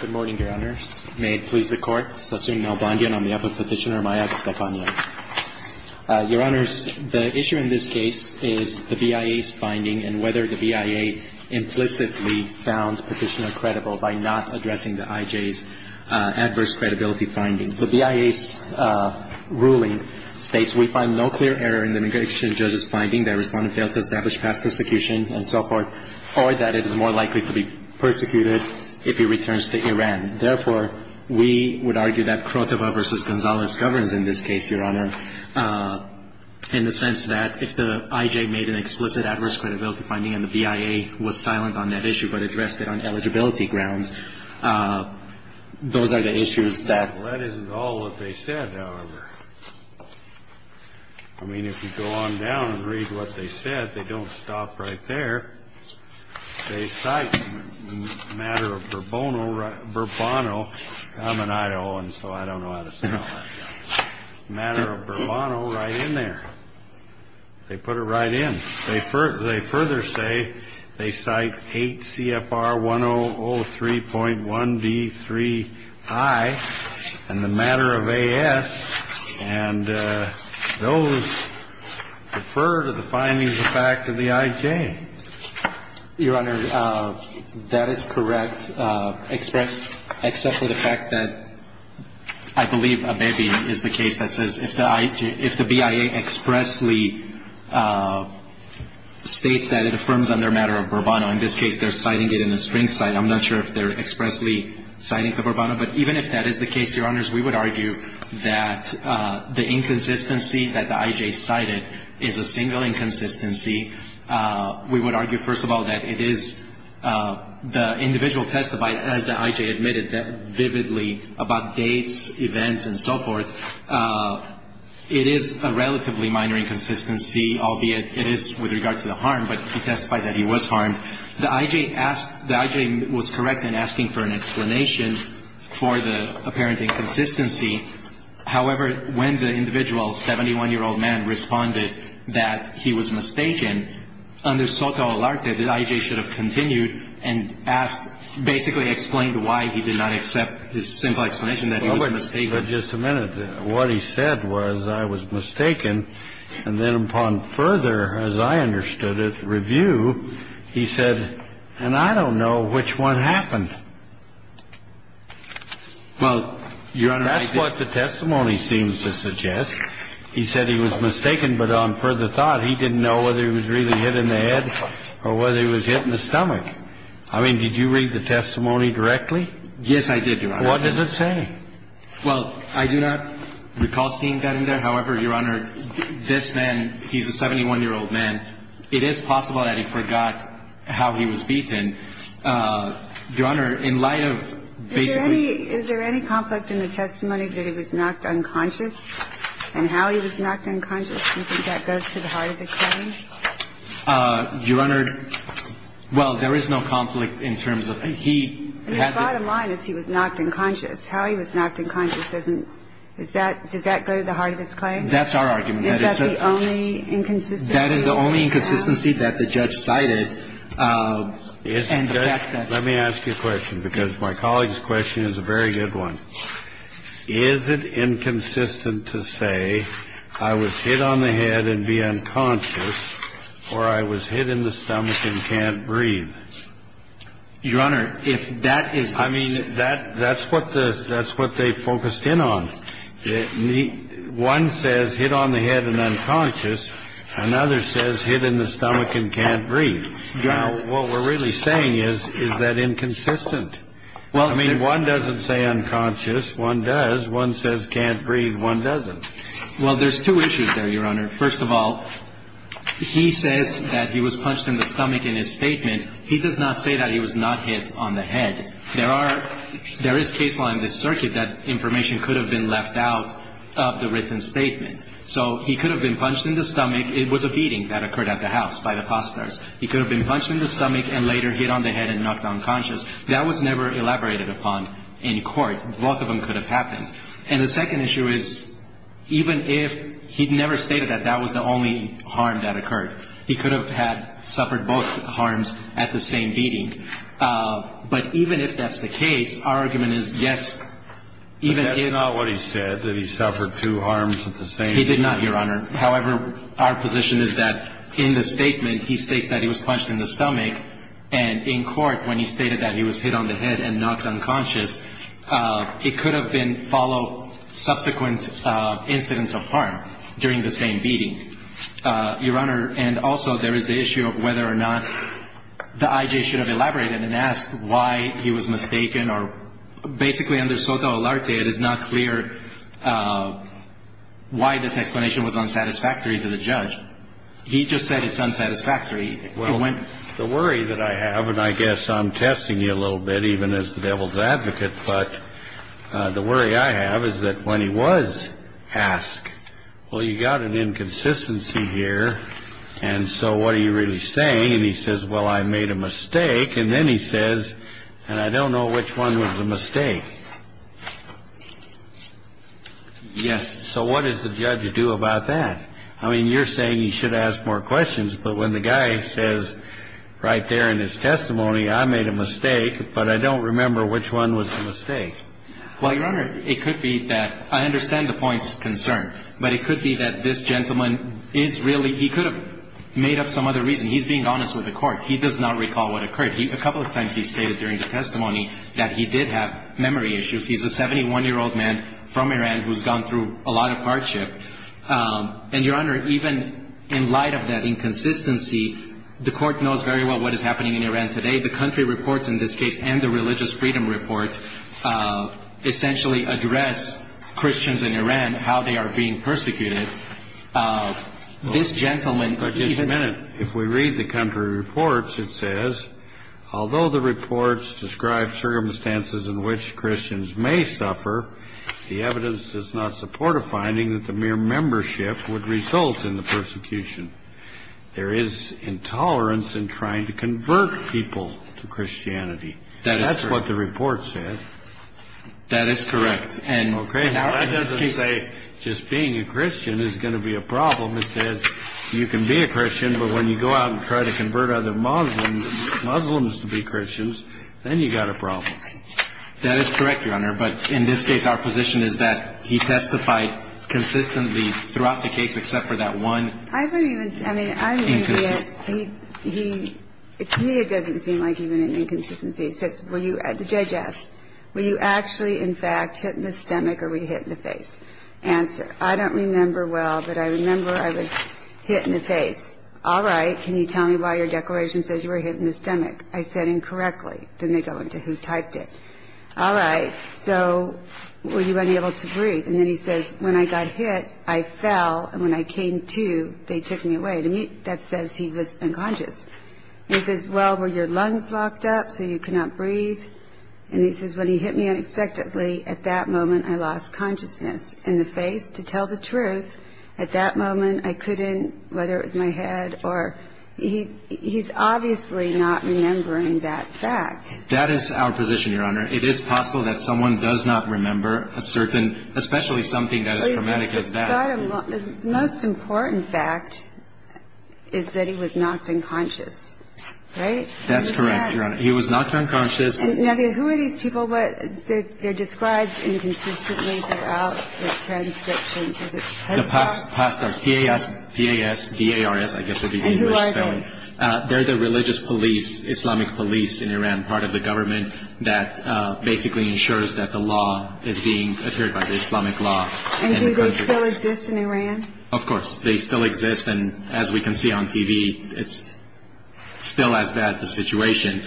Good morning, Your Honors. May it please the Court. Sassoon Nalbandian on behalf of Petitioner Maya Gustafanian. Your Honors, the issue in this case is the BIA's finding and whether the BIA implicitly found Petitioner credible by not addressing the IJ's adverse credibility finding. The BIA's ruling states we find no clear error in the immigration judge's finding that a respondent failed to establish past persecution and so forth, or that it is more likely to be persecuted if he returns to Iran. Therefore, we would argue that Krotova v. Gonzalez governs in this case, Your Honor, in the sense that if the IJ made an explicit adverse credibility finding and the BIA was silent on that issue but addressed it on eligibility grounds, those are the issues that… Well, that isn't all that they said, however. I mean, if you go on down and read what they said, they don't stop right there. They cite the matter of Bourbono right in there. They put it right in. They further say they cite 8 CFR 1003.1D3I, and the matter of A.S., they cite 8 CFR 1003.1D3I, and the matter of A.S., they cite 8 CFR 1003.1D3I, and those refer to the findings of fact of the IJ. Your Honor, that is correct, except for the fact that I believe Abebe is the case that says if the BIA expressly states that it affirms on their matter of Bourbono, in this case they're citing it in the string cite. I'm not sure if they're expressly citing the Bourbono, but even if that is the case, Your Honors, we would argue that the inconsistency that the IJ cited is a single inconsistency. We would argue, first of all, that it is the individual testified, as the IJ admitted vividly, about dates, events, and so forth. It is a relatively minor inconsistency, albeit it is with regard to the harm, but he testified that he was harmed. The IJ asked the IJ was correct in asking for an explanation for the apparent inconsistency. However, when the individual, 71-year-old man, responded that he was mistaken, under Soto Alarte, the IJ should have continued and asked, basically explained why he did not accept this simple explanation that he was mistaken. But just a minute. He said, what he said was, I was mistaken. And then upon further, as I understood it, review, he said, and I don't know which one happened. Well, Your Honor, I did. That's what the testimony seems to suggest. He said he was mistaken, but on further thought, he didn't know whether he was really hit in the head or whether he was hit in the stomach. I mean, did you read the testimony directly? Yes, I did, Your Honor. What does it say? Well, I do not recall seeing that in there. However, Your Honor, this man, he's a 71-year-old man. It is possible that he forgot how he was beaten. Your Honor, in light of basically ---- Is there any conflict in the testimony that he was knocked unconscious and how he was knocked unconscious? Do you think that goes to the heart of the claim? Your Honor, well, there is no conflict in terms of ---- I mean, the bottom line is he was knocked unconscious. How he was knocked unconscious doesn't ---- does that go to the heart of his claim? That's our argument. Is that the only inconsistency? That is the only inconsistency that the judge cited. Let me ask you a question, because my colleague's question is a very good one. Is it inconsistent to say I was hit on the head and be unconscious or I was hit in the stomach and can't breathe? Your Honor, if that is the case ---- I mean, that's what the ---- that's what they focused in on. One says hit on the head and unconscious. Another says hit in the stomach and can't breathe. Now, what we're really saying is, is that inconsistent? I mean, one doesn't say unconscious. One does. One says can't breathe. One doesn't. Well, there's two issues there, Your Honor. First of all, he says that he was punched in the stomach in his statement. He does not say that he was not hit on the head. There are ---- there is case law in this circuit that information could have been left out of the written statement. So he could have been punched in the stomach. It was a beating that occurred at the house by the posters. He could have been punched in the stomach and later hit on the head and knocked unconscious. That was never elaborated upon in court. Both of them could have happened. And the second issue is, even if he'd never stated that that was the only harm that could have been done at the same beating, but even if that's the case, our argument is, yes, even if ---- But that's not what he said, that he suffered two harms at the same beating. He did not, Your Honor. However, our position is that in the statement, he states that he was punched in the stomach, and in court, when he stated that he was hit on the head and knocked unconscious, it could have been followed subsequent incidents of harm during the same beating, Your Honor. And also, there is the issue of whether or not the I.J. should have elaborated and asked why he was mistaken or ---- Basically, under SOTA Olarte, it is not clear why this explanation was unsatisfactory to the judge. He just said it's unsatisfactory. Well, the worry that I have, and I guess I'm testing you a little bit, even as the devil's advocate, but the worry I have is that when he was asked, well, you've got an inconsistency here, and so what are you really saying? And he says, well, I made a mistake. And then he says, and I don't know which one was the mistake. Yes. So what does the judge do about that? I mean, you're saying he should ask more questions. But when the guy says right there in his testimony, I made a mistake, but I don't remember which one was the mistake. Well, Your Honor, it could be that ---- I understand the point's concern. But it could be that this gentleman is really ---- he could have made up some other reason. He's being honest with the court. He does not recall what occurred. A couple of times he stated during the testimony that he did have memory issues. He's a 71-year-old man from Iran who's gone through a lot of hardship. And, Your Honor, even in light of that inconsistency, the court knows very well what is happening in Iran today. The country reports in this case and the religious freedom reports essentially address Christians in Iran, how they are being persecuted. This gentleman ---- But just a minute. If we read the country reports, it says, although the reports describe circumstances in which Christians may suffer, the evidence does not support a finding that the mere membership would result in the persecution. There is intolerance in trying to convert people to Christianity. That is correct. That's what the report said. That is correct. Okay. Now, that doesn't say just being a Christian is going to be a problem. It says you can be a Christian, but when you go out and try to convert other Muslims to be Christians, then you've got a problem. That is correct, Your Honor. But in this case, our position is that he testified consistently throughout the case except for that one inconsistency. I don't even ---- I mean, I don't even think that he ---- to me, it doesn't seem like even an inconsistency. The judge asks, were you actually, in fact, hit in the stomach or were you hit in the face? Answer, I don't remember well, but I remember I was hit in the face. All right. Can you tell me why your declaration says you were hit in the stomach? I said incorrectly. Then they go into who typed it. All right. So were you unable to breathe? And then he says, when I got hit, I fell, and when I came to, they took me away. That says he was unconscious. He says, well, were your lungs locked up so you could not breathe? And he says, when he hit me unexpectedly, at that moment, I lost consciousness. In the face, to tell the truth, at that moment, I couldn't, whether it was my head or ---- he's obviously not remembering that fact. That is our position, Your Honor. It is possible that someone does not remember a certain, especially something that is traumatic as that. The most important fact is that he was knocked unconscious, right? That's correct, Your Honor. He was knocked unconscious. Now, who are these people? They're described inconsistently throughout the transcriptions. Is it pastors? Pastors, P-A-S, D-A-R-S, I guess would be the English spelling. And who are they? They're the religious police, Islamic police in Iran, part of the government, that basically ensures that the law is being adhered by the Islamic law. And do they still exist in Iran? Of course. They still exist. And as we can see on TV, it's still as bad a situation.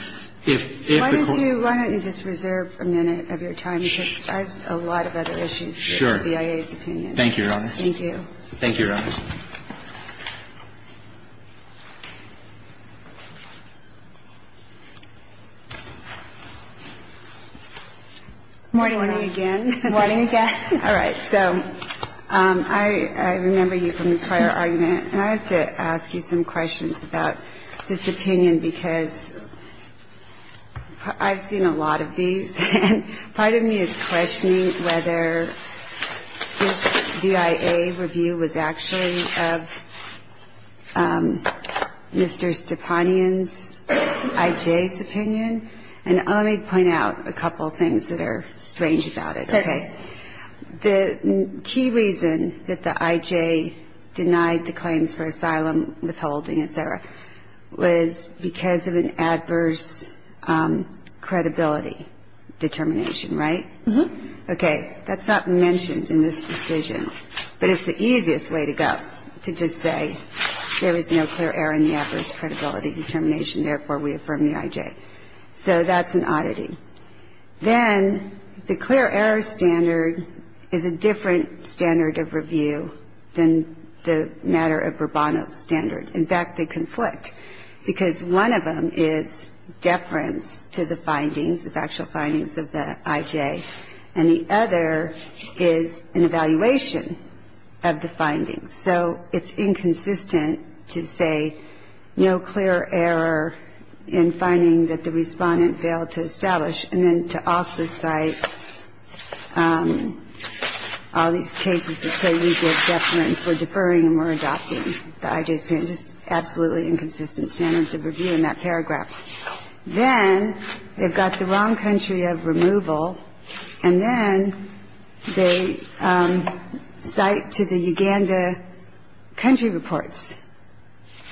Why don't you just reserve a minute of your time? Because I have a lot of other issues. Sure. The BIA's opinion. Thank you, Your Honor. Thank you. Thank you, Your Honor. Morning again. Morning again. All right. So I remember you from the prior argument. And I have to ask you some questions about this opinion because I've seen a lot of these. And part of me is questioning whether this BIA review was actually of Mr. Stepanian's, I.J.'s opinion. And let me point out a couple of things that are strange about it. Okay. The key reason that the I.J. denied the claims for asylum, withholding, et cetera, was because of an adverse credibility determination, right? Uh-huh. Okay. That's not mentioned in this decision. But it's the easiest way to go, to just say there is no clear error in the adverse credibility determination, therefore we affirm the I.J. So that's an oddity. Then the clear error standard is a different standard of review than the matter of Rubano's standard. In fact, they conflict because one of them is deference to the findings, the factual findings of the I.J., and the other is an evaluation of the findings. So it's inconsistent to say no clear error in finding that the respondent failed to establish and then to also cite all these cases that say we give deference, we're deferring, and we're adopting. The I.J.'s opinion is just absolutely inconsistent standards of review in that paragraph. Then they've got the wrong country of removal, and then they cite to the Uganda country reports.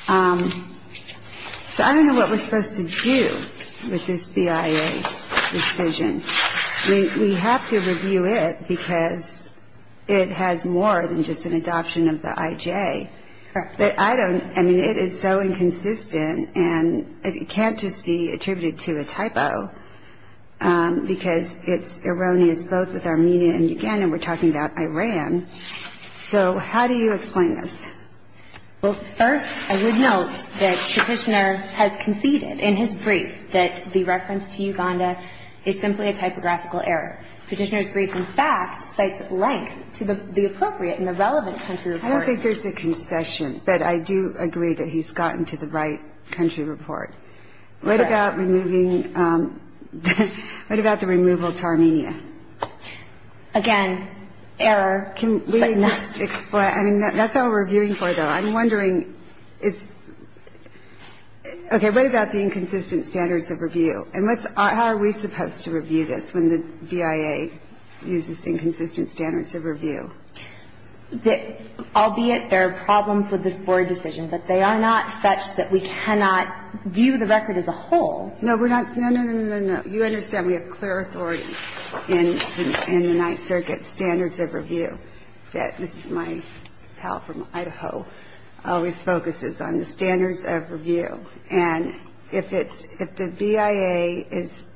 So I don't know what we're supposed to do with this BIA decision. I mean, we have to review it because it has more than just an adoption of the I.J. But I don't ñ I mean, it is so inconsistent, and it can't just be attributed to a typo because it's erroneous both with Armenia and Uganda. We're talking about Iran. So how do you explain this? Well, first I would note that Petitioner has conceded in his brief that the reference to Uganda is simply a typographical error. Petitioner's brief, in fact, cites length to the appropriate and the relevant country of origin. I don't think there's a concession, but I do agree that he's gotten to the right country report. What about removing ñ what about the removal to Armenia? Again, error. Can we just explain ñ I mean, that's all we're reviewing for, though. I'm wondering is ñ okay, what about the inconsistent standards of review? And what's ñ how are we supposed to review this when the BIA uses inconsistent standards of review? Albeit there are problems with this Board decision, but they are not such that we cannot view the record as a whole. No, we're not ñ no, no, no, no, no. You understand we have clear authority in the Ninth Circuit standards of review. This is my pal from Idaho, always focuses on the standards of review. And if it's ñ if the BIA is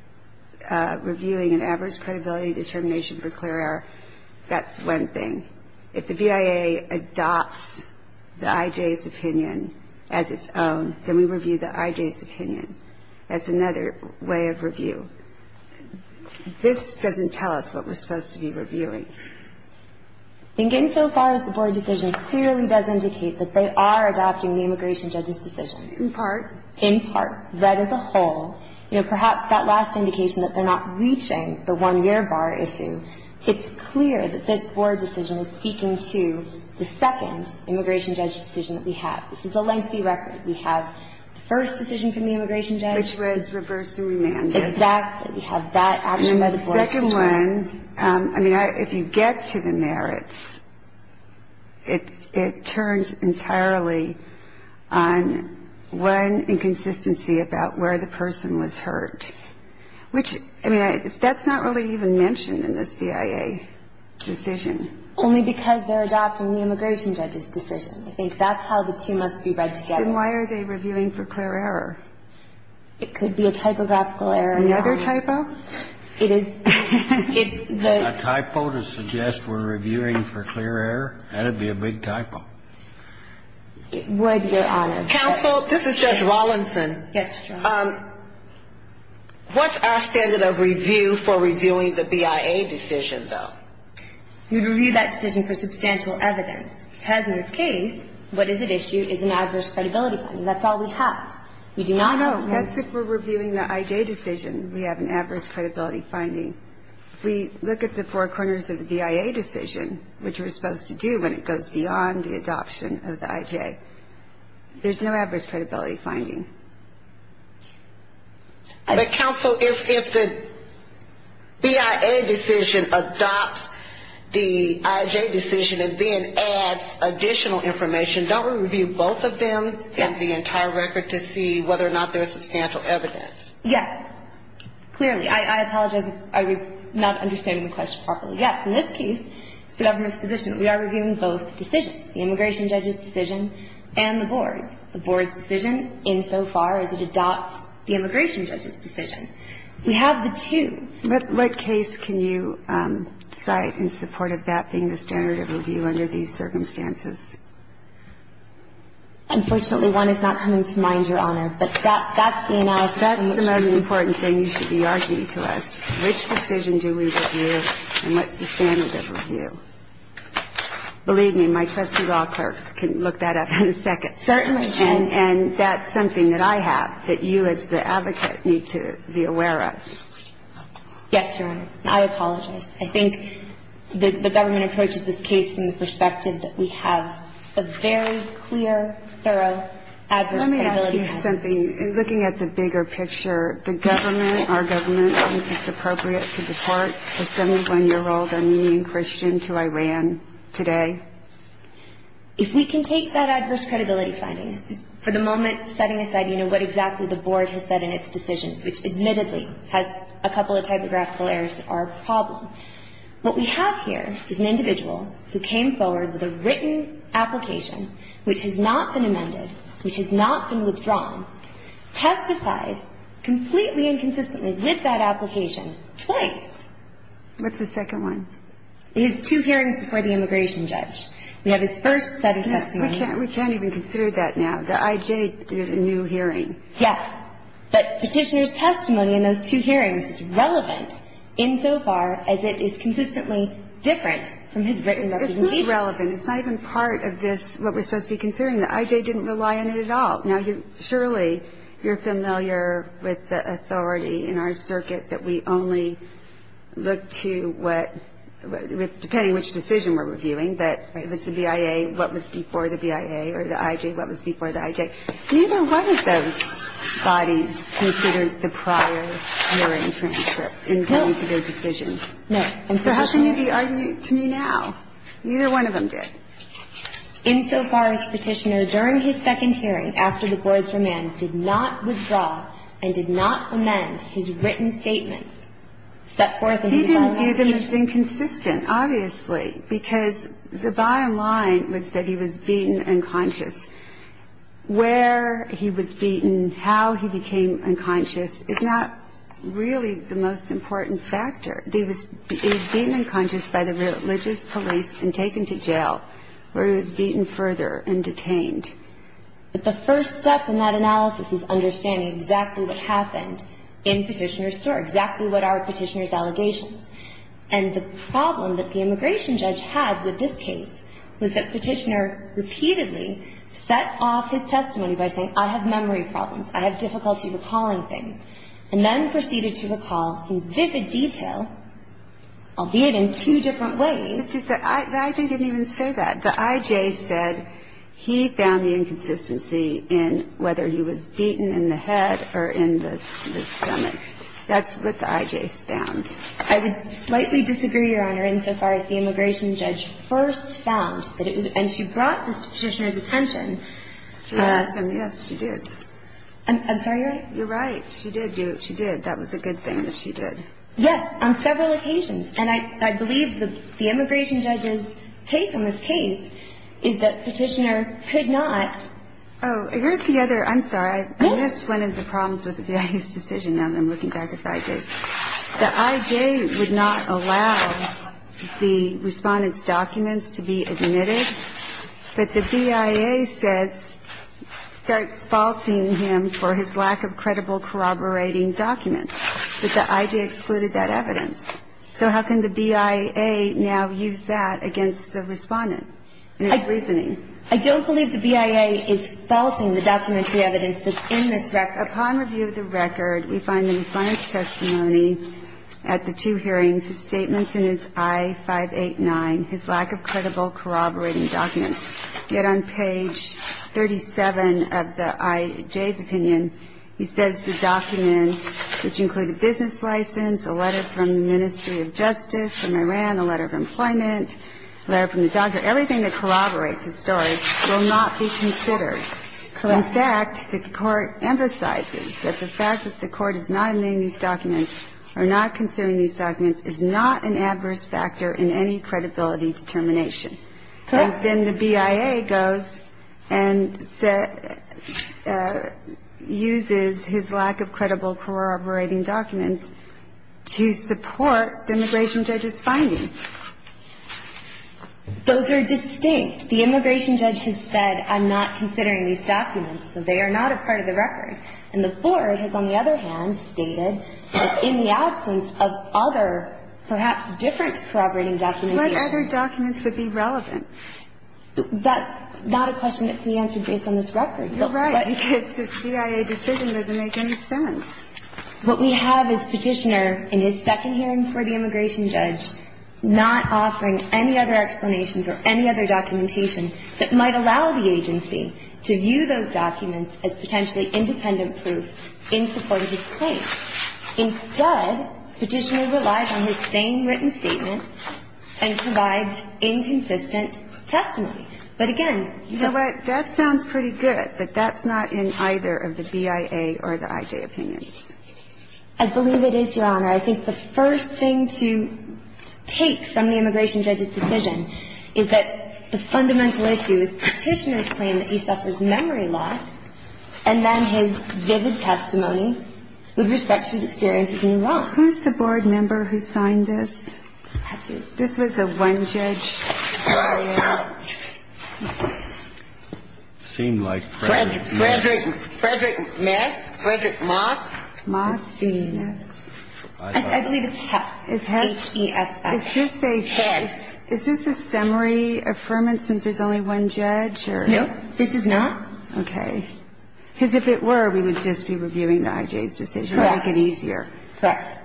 reviewing an adverse credibility determination for clear error, that's one thing. If the BIA adopts the IJ's opinion as its own, then we review the IJ's opinion. That's another way of review. This doesn't tell us what we're supposed to be reviewing. In getting so far as the Board decision clearly does indicate that they are adopting the immigration judge's decision. In part. In part. Read as a whole. You know, perhaps that last indication that they're not reaching the one-year bar issue, it's clear that this Board decision is speaking to the second immigration judge decision that we have. This is a lengthy record. We have the first decision from the immigration judge. Exactly. We have that action by the Board. The second one, I mean, if you get to the merits, it turns entirely on one inconsistency about where the person was hurt. Which, I mean, that's not really even mentioned in this BIA decision. Only because they're adopting the immigration judge's decision. I think that's how the two must be read together. Then why are they reviewing for clear error? It could be a typographical error. Another typo? It is. It's the. A typo to suggest we're reviewing for clear error? That would be a big typo. It would, Your Honor. Counsel, this is Judge Rawlinson. Yes, Judge. What's our standard of review for reviewing the BIA decision, though? We review that decision for substantial evidence. Because in this case, what is at issue is an adverse credibility finding. That's all we have. We do not have. No, that's if we're reviewing the IJ decision. We have an adverse credibility finding. We look at the four corners of the BIA decision, which we're supposed to do when it goes beyond the adoption of the IJ. There's no adverse credibility finding. But, Counsel, if the BIA decision adopts the IJ decision and then adds additional information, don't we review both of them and the entire record to see whether or not there is substantial evidence? Yes. Clearly. I apologize if I was not understanding the question properly. Yes. In this case, it's the government's position that we are reviewing both decisions, the immigration judge's decision and the board's, the board's decision insofar as it adopts the immigration judge's decision. We have the two. What case can you cite in support of that being the standard of review under these circumstances? Unfortunately, one is not coming to mind, Your Honor. But that's the analysis. That's the most important thing you should be arguing to us. Which decision do we review and what's the standard of review? Believe me, my trusty law clerks can look that up in a second. Certainly can. And that's something that I have that you as the advocate need to be aware of. Yes, Your Honor. I apologize. I think the government approaches this case from the perspective that we have a very clear, thorough adverse credibility finding. Let me ask you something. In looking at the bigger picture, the government, our government, is this appropriate to deport a 71-year-old Armenian Christian to Iran today? If we can take that adverse credibility finding for the moment, setting aside what exactly the board has said in its decision, which admittedly has a couple of typographical errors that are a problem, what we have here is an individual who came forward with a written application, which has not been amended, which has not been withdrawn, testified completely and consistently with that application twice. What's the second one? His two hearings before the immigration judge. We have his first set of testimony. We can't even consider that now. The I.J. did a new hearing. Yes. But Petitioner's testimony in those two hearings is relevant insofar as it is consistently different from his written recommendation. It's not relevant. It's not even part of this, what we're supposed to be considering. The I.J. didn't rely on it at all. Now, Shirley, you're familiar with the authority in our circuit that we only look to what, depending on which decision we're reviewing, that it was the BIA, what was before the BIA, or the I.J., what was before the I.J. Neither one of those bodies considered the prior hearing transcript in going to their decision. No. And so how can you be arguing to me now? Neither one of them did. Insofar as Petitioner, during his second hearing, after the board's remand, did not withdraw and did not amend his written statements. He didn't view them as inconsistent, obviously, because the bottom line was that he was beaten unconscious. Where he was beaten, how he became unconscious is not really the most important factor. He was beaten unconscious by the religious police and taken to jail, where he was beaten further and detained. But the first step in that analysis is understanding exactly what happened in Petitioner's store, exactly what are Petitioner's allegations. And the problem that the immigration judge had with this case was that Petitioner repeatedly set off his testimony by saying, I have memory problems, I have difficulty recalling things, and then proceeded to recall in vivid detail, albeit in two different ways. The I.J. didn't even say that. The I.J. said he found the inconsistency in whether he was beaten in the head or in the stomach. That's what the I.J. found. I would slightly disagree, Your Honor, insofar as the immigration judge first found that it was – and she brought this to Petitioner's attention. Yes. Yes, she did. I'm sorry. You're right. She did do it. She did. That was a good thing that she did. Yes, on several occasions. And I believe the immigration judge's take on this case is that Petitioner could not – Oh, here's the other – I'm sorry. I missed one of the problems with the BIA's decision, now that I'm looking back at the I.J.'s. The I.J. would not allow the respondent's documents to be admitted, but the BIA says – starts faulting him for his lack of credible corroborating documents. But the I.J. excluded that evidence. So how can the BIA now use that against the respondent in his reasoning? I don't believe the BIA is faulting the documentary evidence that's in this record. Upon review of the record, we find the response testimony at the two hearings, the statements in his I-589, his lack of credible corroborating documents. Yet on page 37 of the I.J.'s opinion, he says the documents, which include a business license, a letter from the Ministry of Justice from Iran, a letter from employment, a letter from the doctor, everything that corroborates his story will not be considered. Correct. In fact, the Court emphasizes that the fact that the Court is not admitting these documents or not considering these documents is not an adverse factor in any credibility determination. Correct. And then the BIA goes and uses his lack of credible corroborating documents to support the immigration judge's finding. Those are distinct. The immigration judge has said, I'm not considering these documents, so they are not a part of the record. And the Board has, on the other hand, stated that in the absence of other, perhaps different corroborating documentation. What other documents would be relevant? That's not a question that can be answered based on this record. You're right, because this BIA decision doesn't make any sense. What we have is Petitioner in his second hearing for the immigration judge not offering any other explanations or any other documentation that might allow the agency to view those documents as potentially independent proof in support of his claim. Instead, Petitioner relies on his same written statement and provides inconsistent testimony. But, again, the ---- You know what? That sounds pretty good, but that's not in either of the BIA or the IJ opinions. I believe it is, Your Honor. I think the first thing to take from the immigration judge's decision is that the fundamental issue is Petitioner's claim that he suffers memory loss, and then his vivid testimony with respect to his experiences in Iran. Who's the Board member who signed this? This was a one-judge BIA. It seemed like Frederick Mass. Frederick Mass? Frederick Moss? Moss, yes. I believe it's Hess. It's Hess? H-E-S-S. Is this a ---- Hess. Does it make any sense since there's only one judge or ---- No, this is not. Okay. Because if it were, we would just be reviewing the IJ's decision. Correct. We'd make it easier. Yes.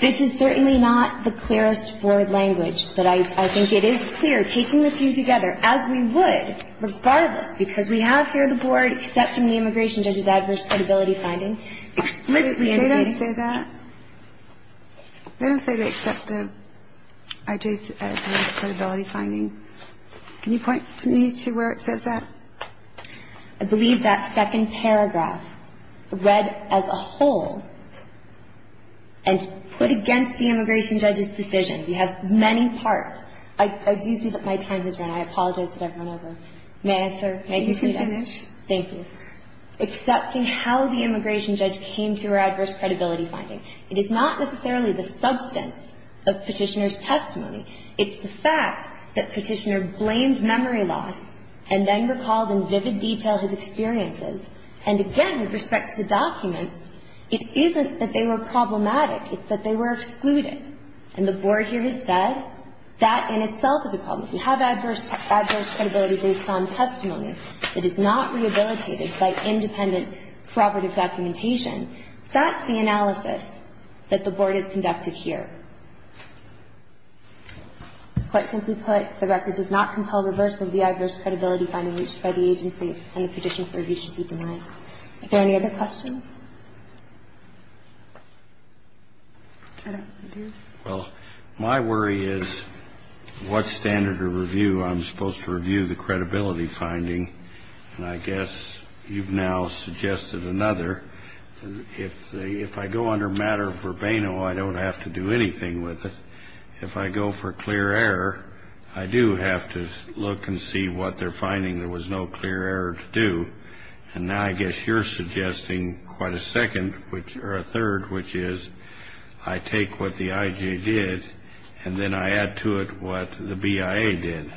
This is certainly not the clearest Board language, but I think it is clear taking the two together, as we would regardless, because we have here the Board accepting the immigration judge's adverse credibility finding explicitly indicating ---- They don't say that? They don't say they accept the IJ's adverse credibility finding. Can you point me to where it says that? I believe that second paragraph read as a whole and put against the immigration judge's decision. We have many parts. I do see that my time has run. I apologize that I've run over. May I answer? You can finish. Thank you. We have the Board accepting how the immigration judge came to her adverse credibility finding. It is not necessarily the substance of Petitioner's testimony. It's the fact that Petitioner blamed memory loss and then recalled in vivid detail his experiences. And again, with respect to the documents, it isn't that they were problematic. It's that they were excluded. And the Board here has said that in itself is a problem. We have adverse credibility based on testimony. It is not rehabilitated by independent, corroborative documentation. That's the analysis that the Board has conducted here. Quite simply put, the record does not compel reversal of the adverse credibility finding reached by the agency and the petition for review should be denied. Are there any other questions? I don't think there is. Well, my worry is what standard of review I'm supposed to review the credibility finding. And I guess you've now suggested another. If I go under matter verbena, I don't have to do anything with it. If I go for clear error, I do have to look and see what they're finding there was no clear error to do. And now I guess you're suggesting quite a second, or a third, which is I take what the I.J. did and then I add to it what the BIA did.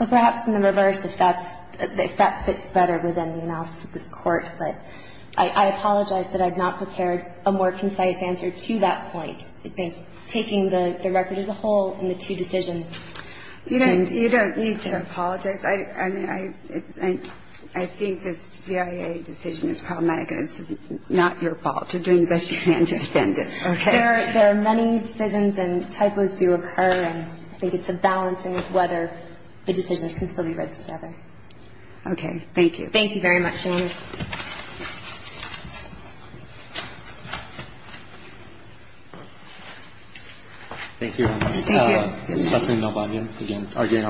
Well, perhaps in the reverse, if that fits better within the analysis of this Court. But I apologize that I've not prepared a more concise answer to that point. I think taking the record as a whole and the two decisions. You don't need to apologize. I mean, I think this BIA decision is problematic. It's not your fault. You're doing the best you can to defend it. There are many decisions and typos do occur. And I think it's a balancing of whether the decisions can still be read together. Okay. Thank you. Thank you very much. I'm sorry, your Honor. Thank you, Your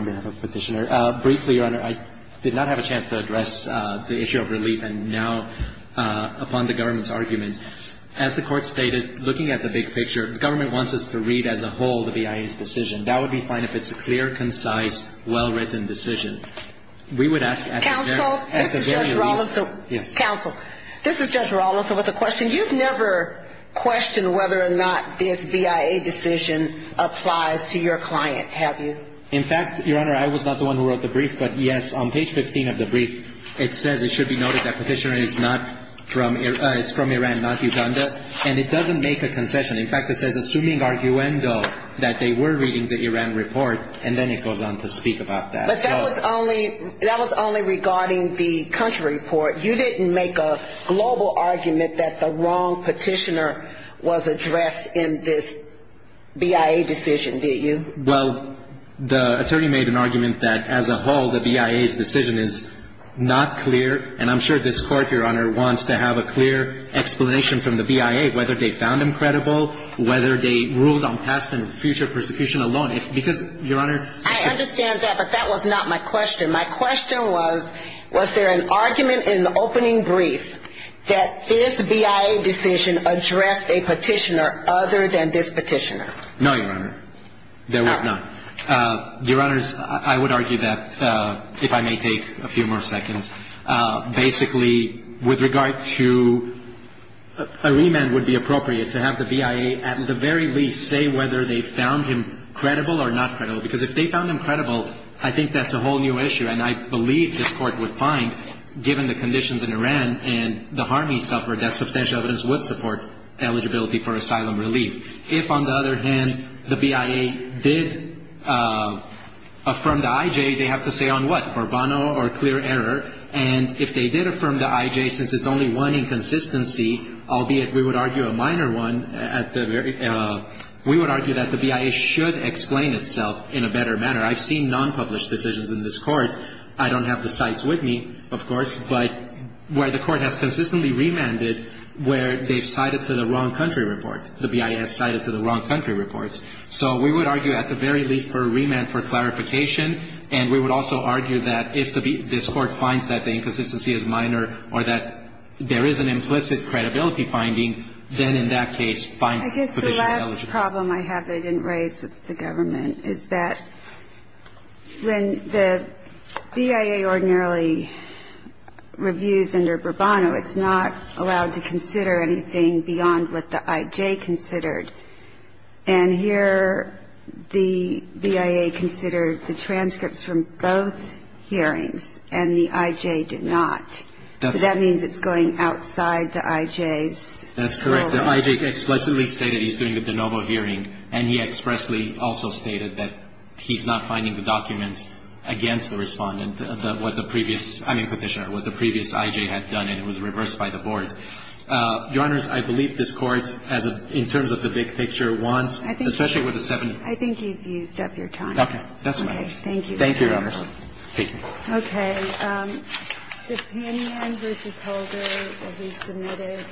Honor. briefly, Your Honor, I did not have a chance to address the issue of relief and now upon the government's argument. As the Court stated, looking at the big picture, the government wants us to read as a whole the BIA's decision. That would be fine if it's a clear, concise, well-written decision. We would ask at the very least... Counsel, this is Judge Rollins with a question. You've never questioned whether or not this BIA decision applies to your client, have you? In fact, Your Honor, I was not the one who wrote the brief, but yes, on page 15 of the brief, it says it should be noted that petitioner is from Iran, not Uganda, and it doesn't make a concession. In fact, it says, assuming arguendo, that they were reading the Iran report, and then it goes on to speak about that. But that was only regarding the country report. You didn't make a global argument that the wrong petitioner was addressed in this BIA decision, did you? Well, the attorney made an argument that as a whole, the BIA's decision is not clear, and I'm sure this court, Your Honor, wants to have a clear explanation from the BIA, whether they found him credible, whether they ruled on past and future persecution alone, because, Your Honor... I understand that, but that was not my question. My question was, was there an argument in the opening brief that this BIA decision addressed a petitioner other than this petitioner? No, Your Honor, there was not. Your Honors, I would argue that, if I may take a few more seconds, basically, with regard to a remand would be appropriate to have the BIA, at the very least, say whether they found him credible or not credible, because if they found him credible, I think that's a whole new issue, and I believe this court would find, given the conditions in Iran and the harm he suffered, that substantial evidence would support eligibility for asylum relief. If, on the other hand, the BIA did affirm the IJ, they have to say on what? For bono or clear error? And if they did affirm the IJ, since it's only one inconsistency, albeit we would argue a minor one, we would argue that the BIA should explain itself in a better manner. I've seen non-published decisions in this court. I don't have the cites with me, of course, but where the court has consistently remanded, where they've cited to the wrong country report. The BIA has cited to the wrong country reports. So we would argue, at the very least, for a remand for clarification, and we would also argue that if this court finds that the inconsistency is minor or that there is an implicit credibility finding, then in that case, fine. I guess the last problem I have that I didn't raise with the government is that when the BIA ordinarily reviews under the IJ, it doesn't consider anything beyond what the IJ considered. And here the BIA considered the transcripts from both hearings, and the IJ did not. So that means it's going outside the IJ's role. That's correct. The IJ explicitly stated he's doing the de novo hearing, and he expressly also stated that he's not finding the documents against the respondent, I mean, Petitioner, what the previous IJ had done, and it was reversed by the board. Your Honors, I believe this Court, in terms of the big picture, wants, especially with the seven. I think you've used up your time. Okay. That's my answer. Okay. Thank you, Your Honors. Thank you. Okay. Thank you. Thank you. Thank you.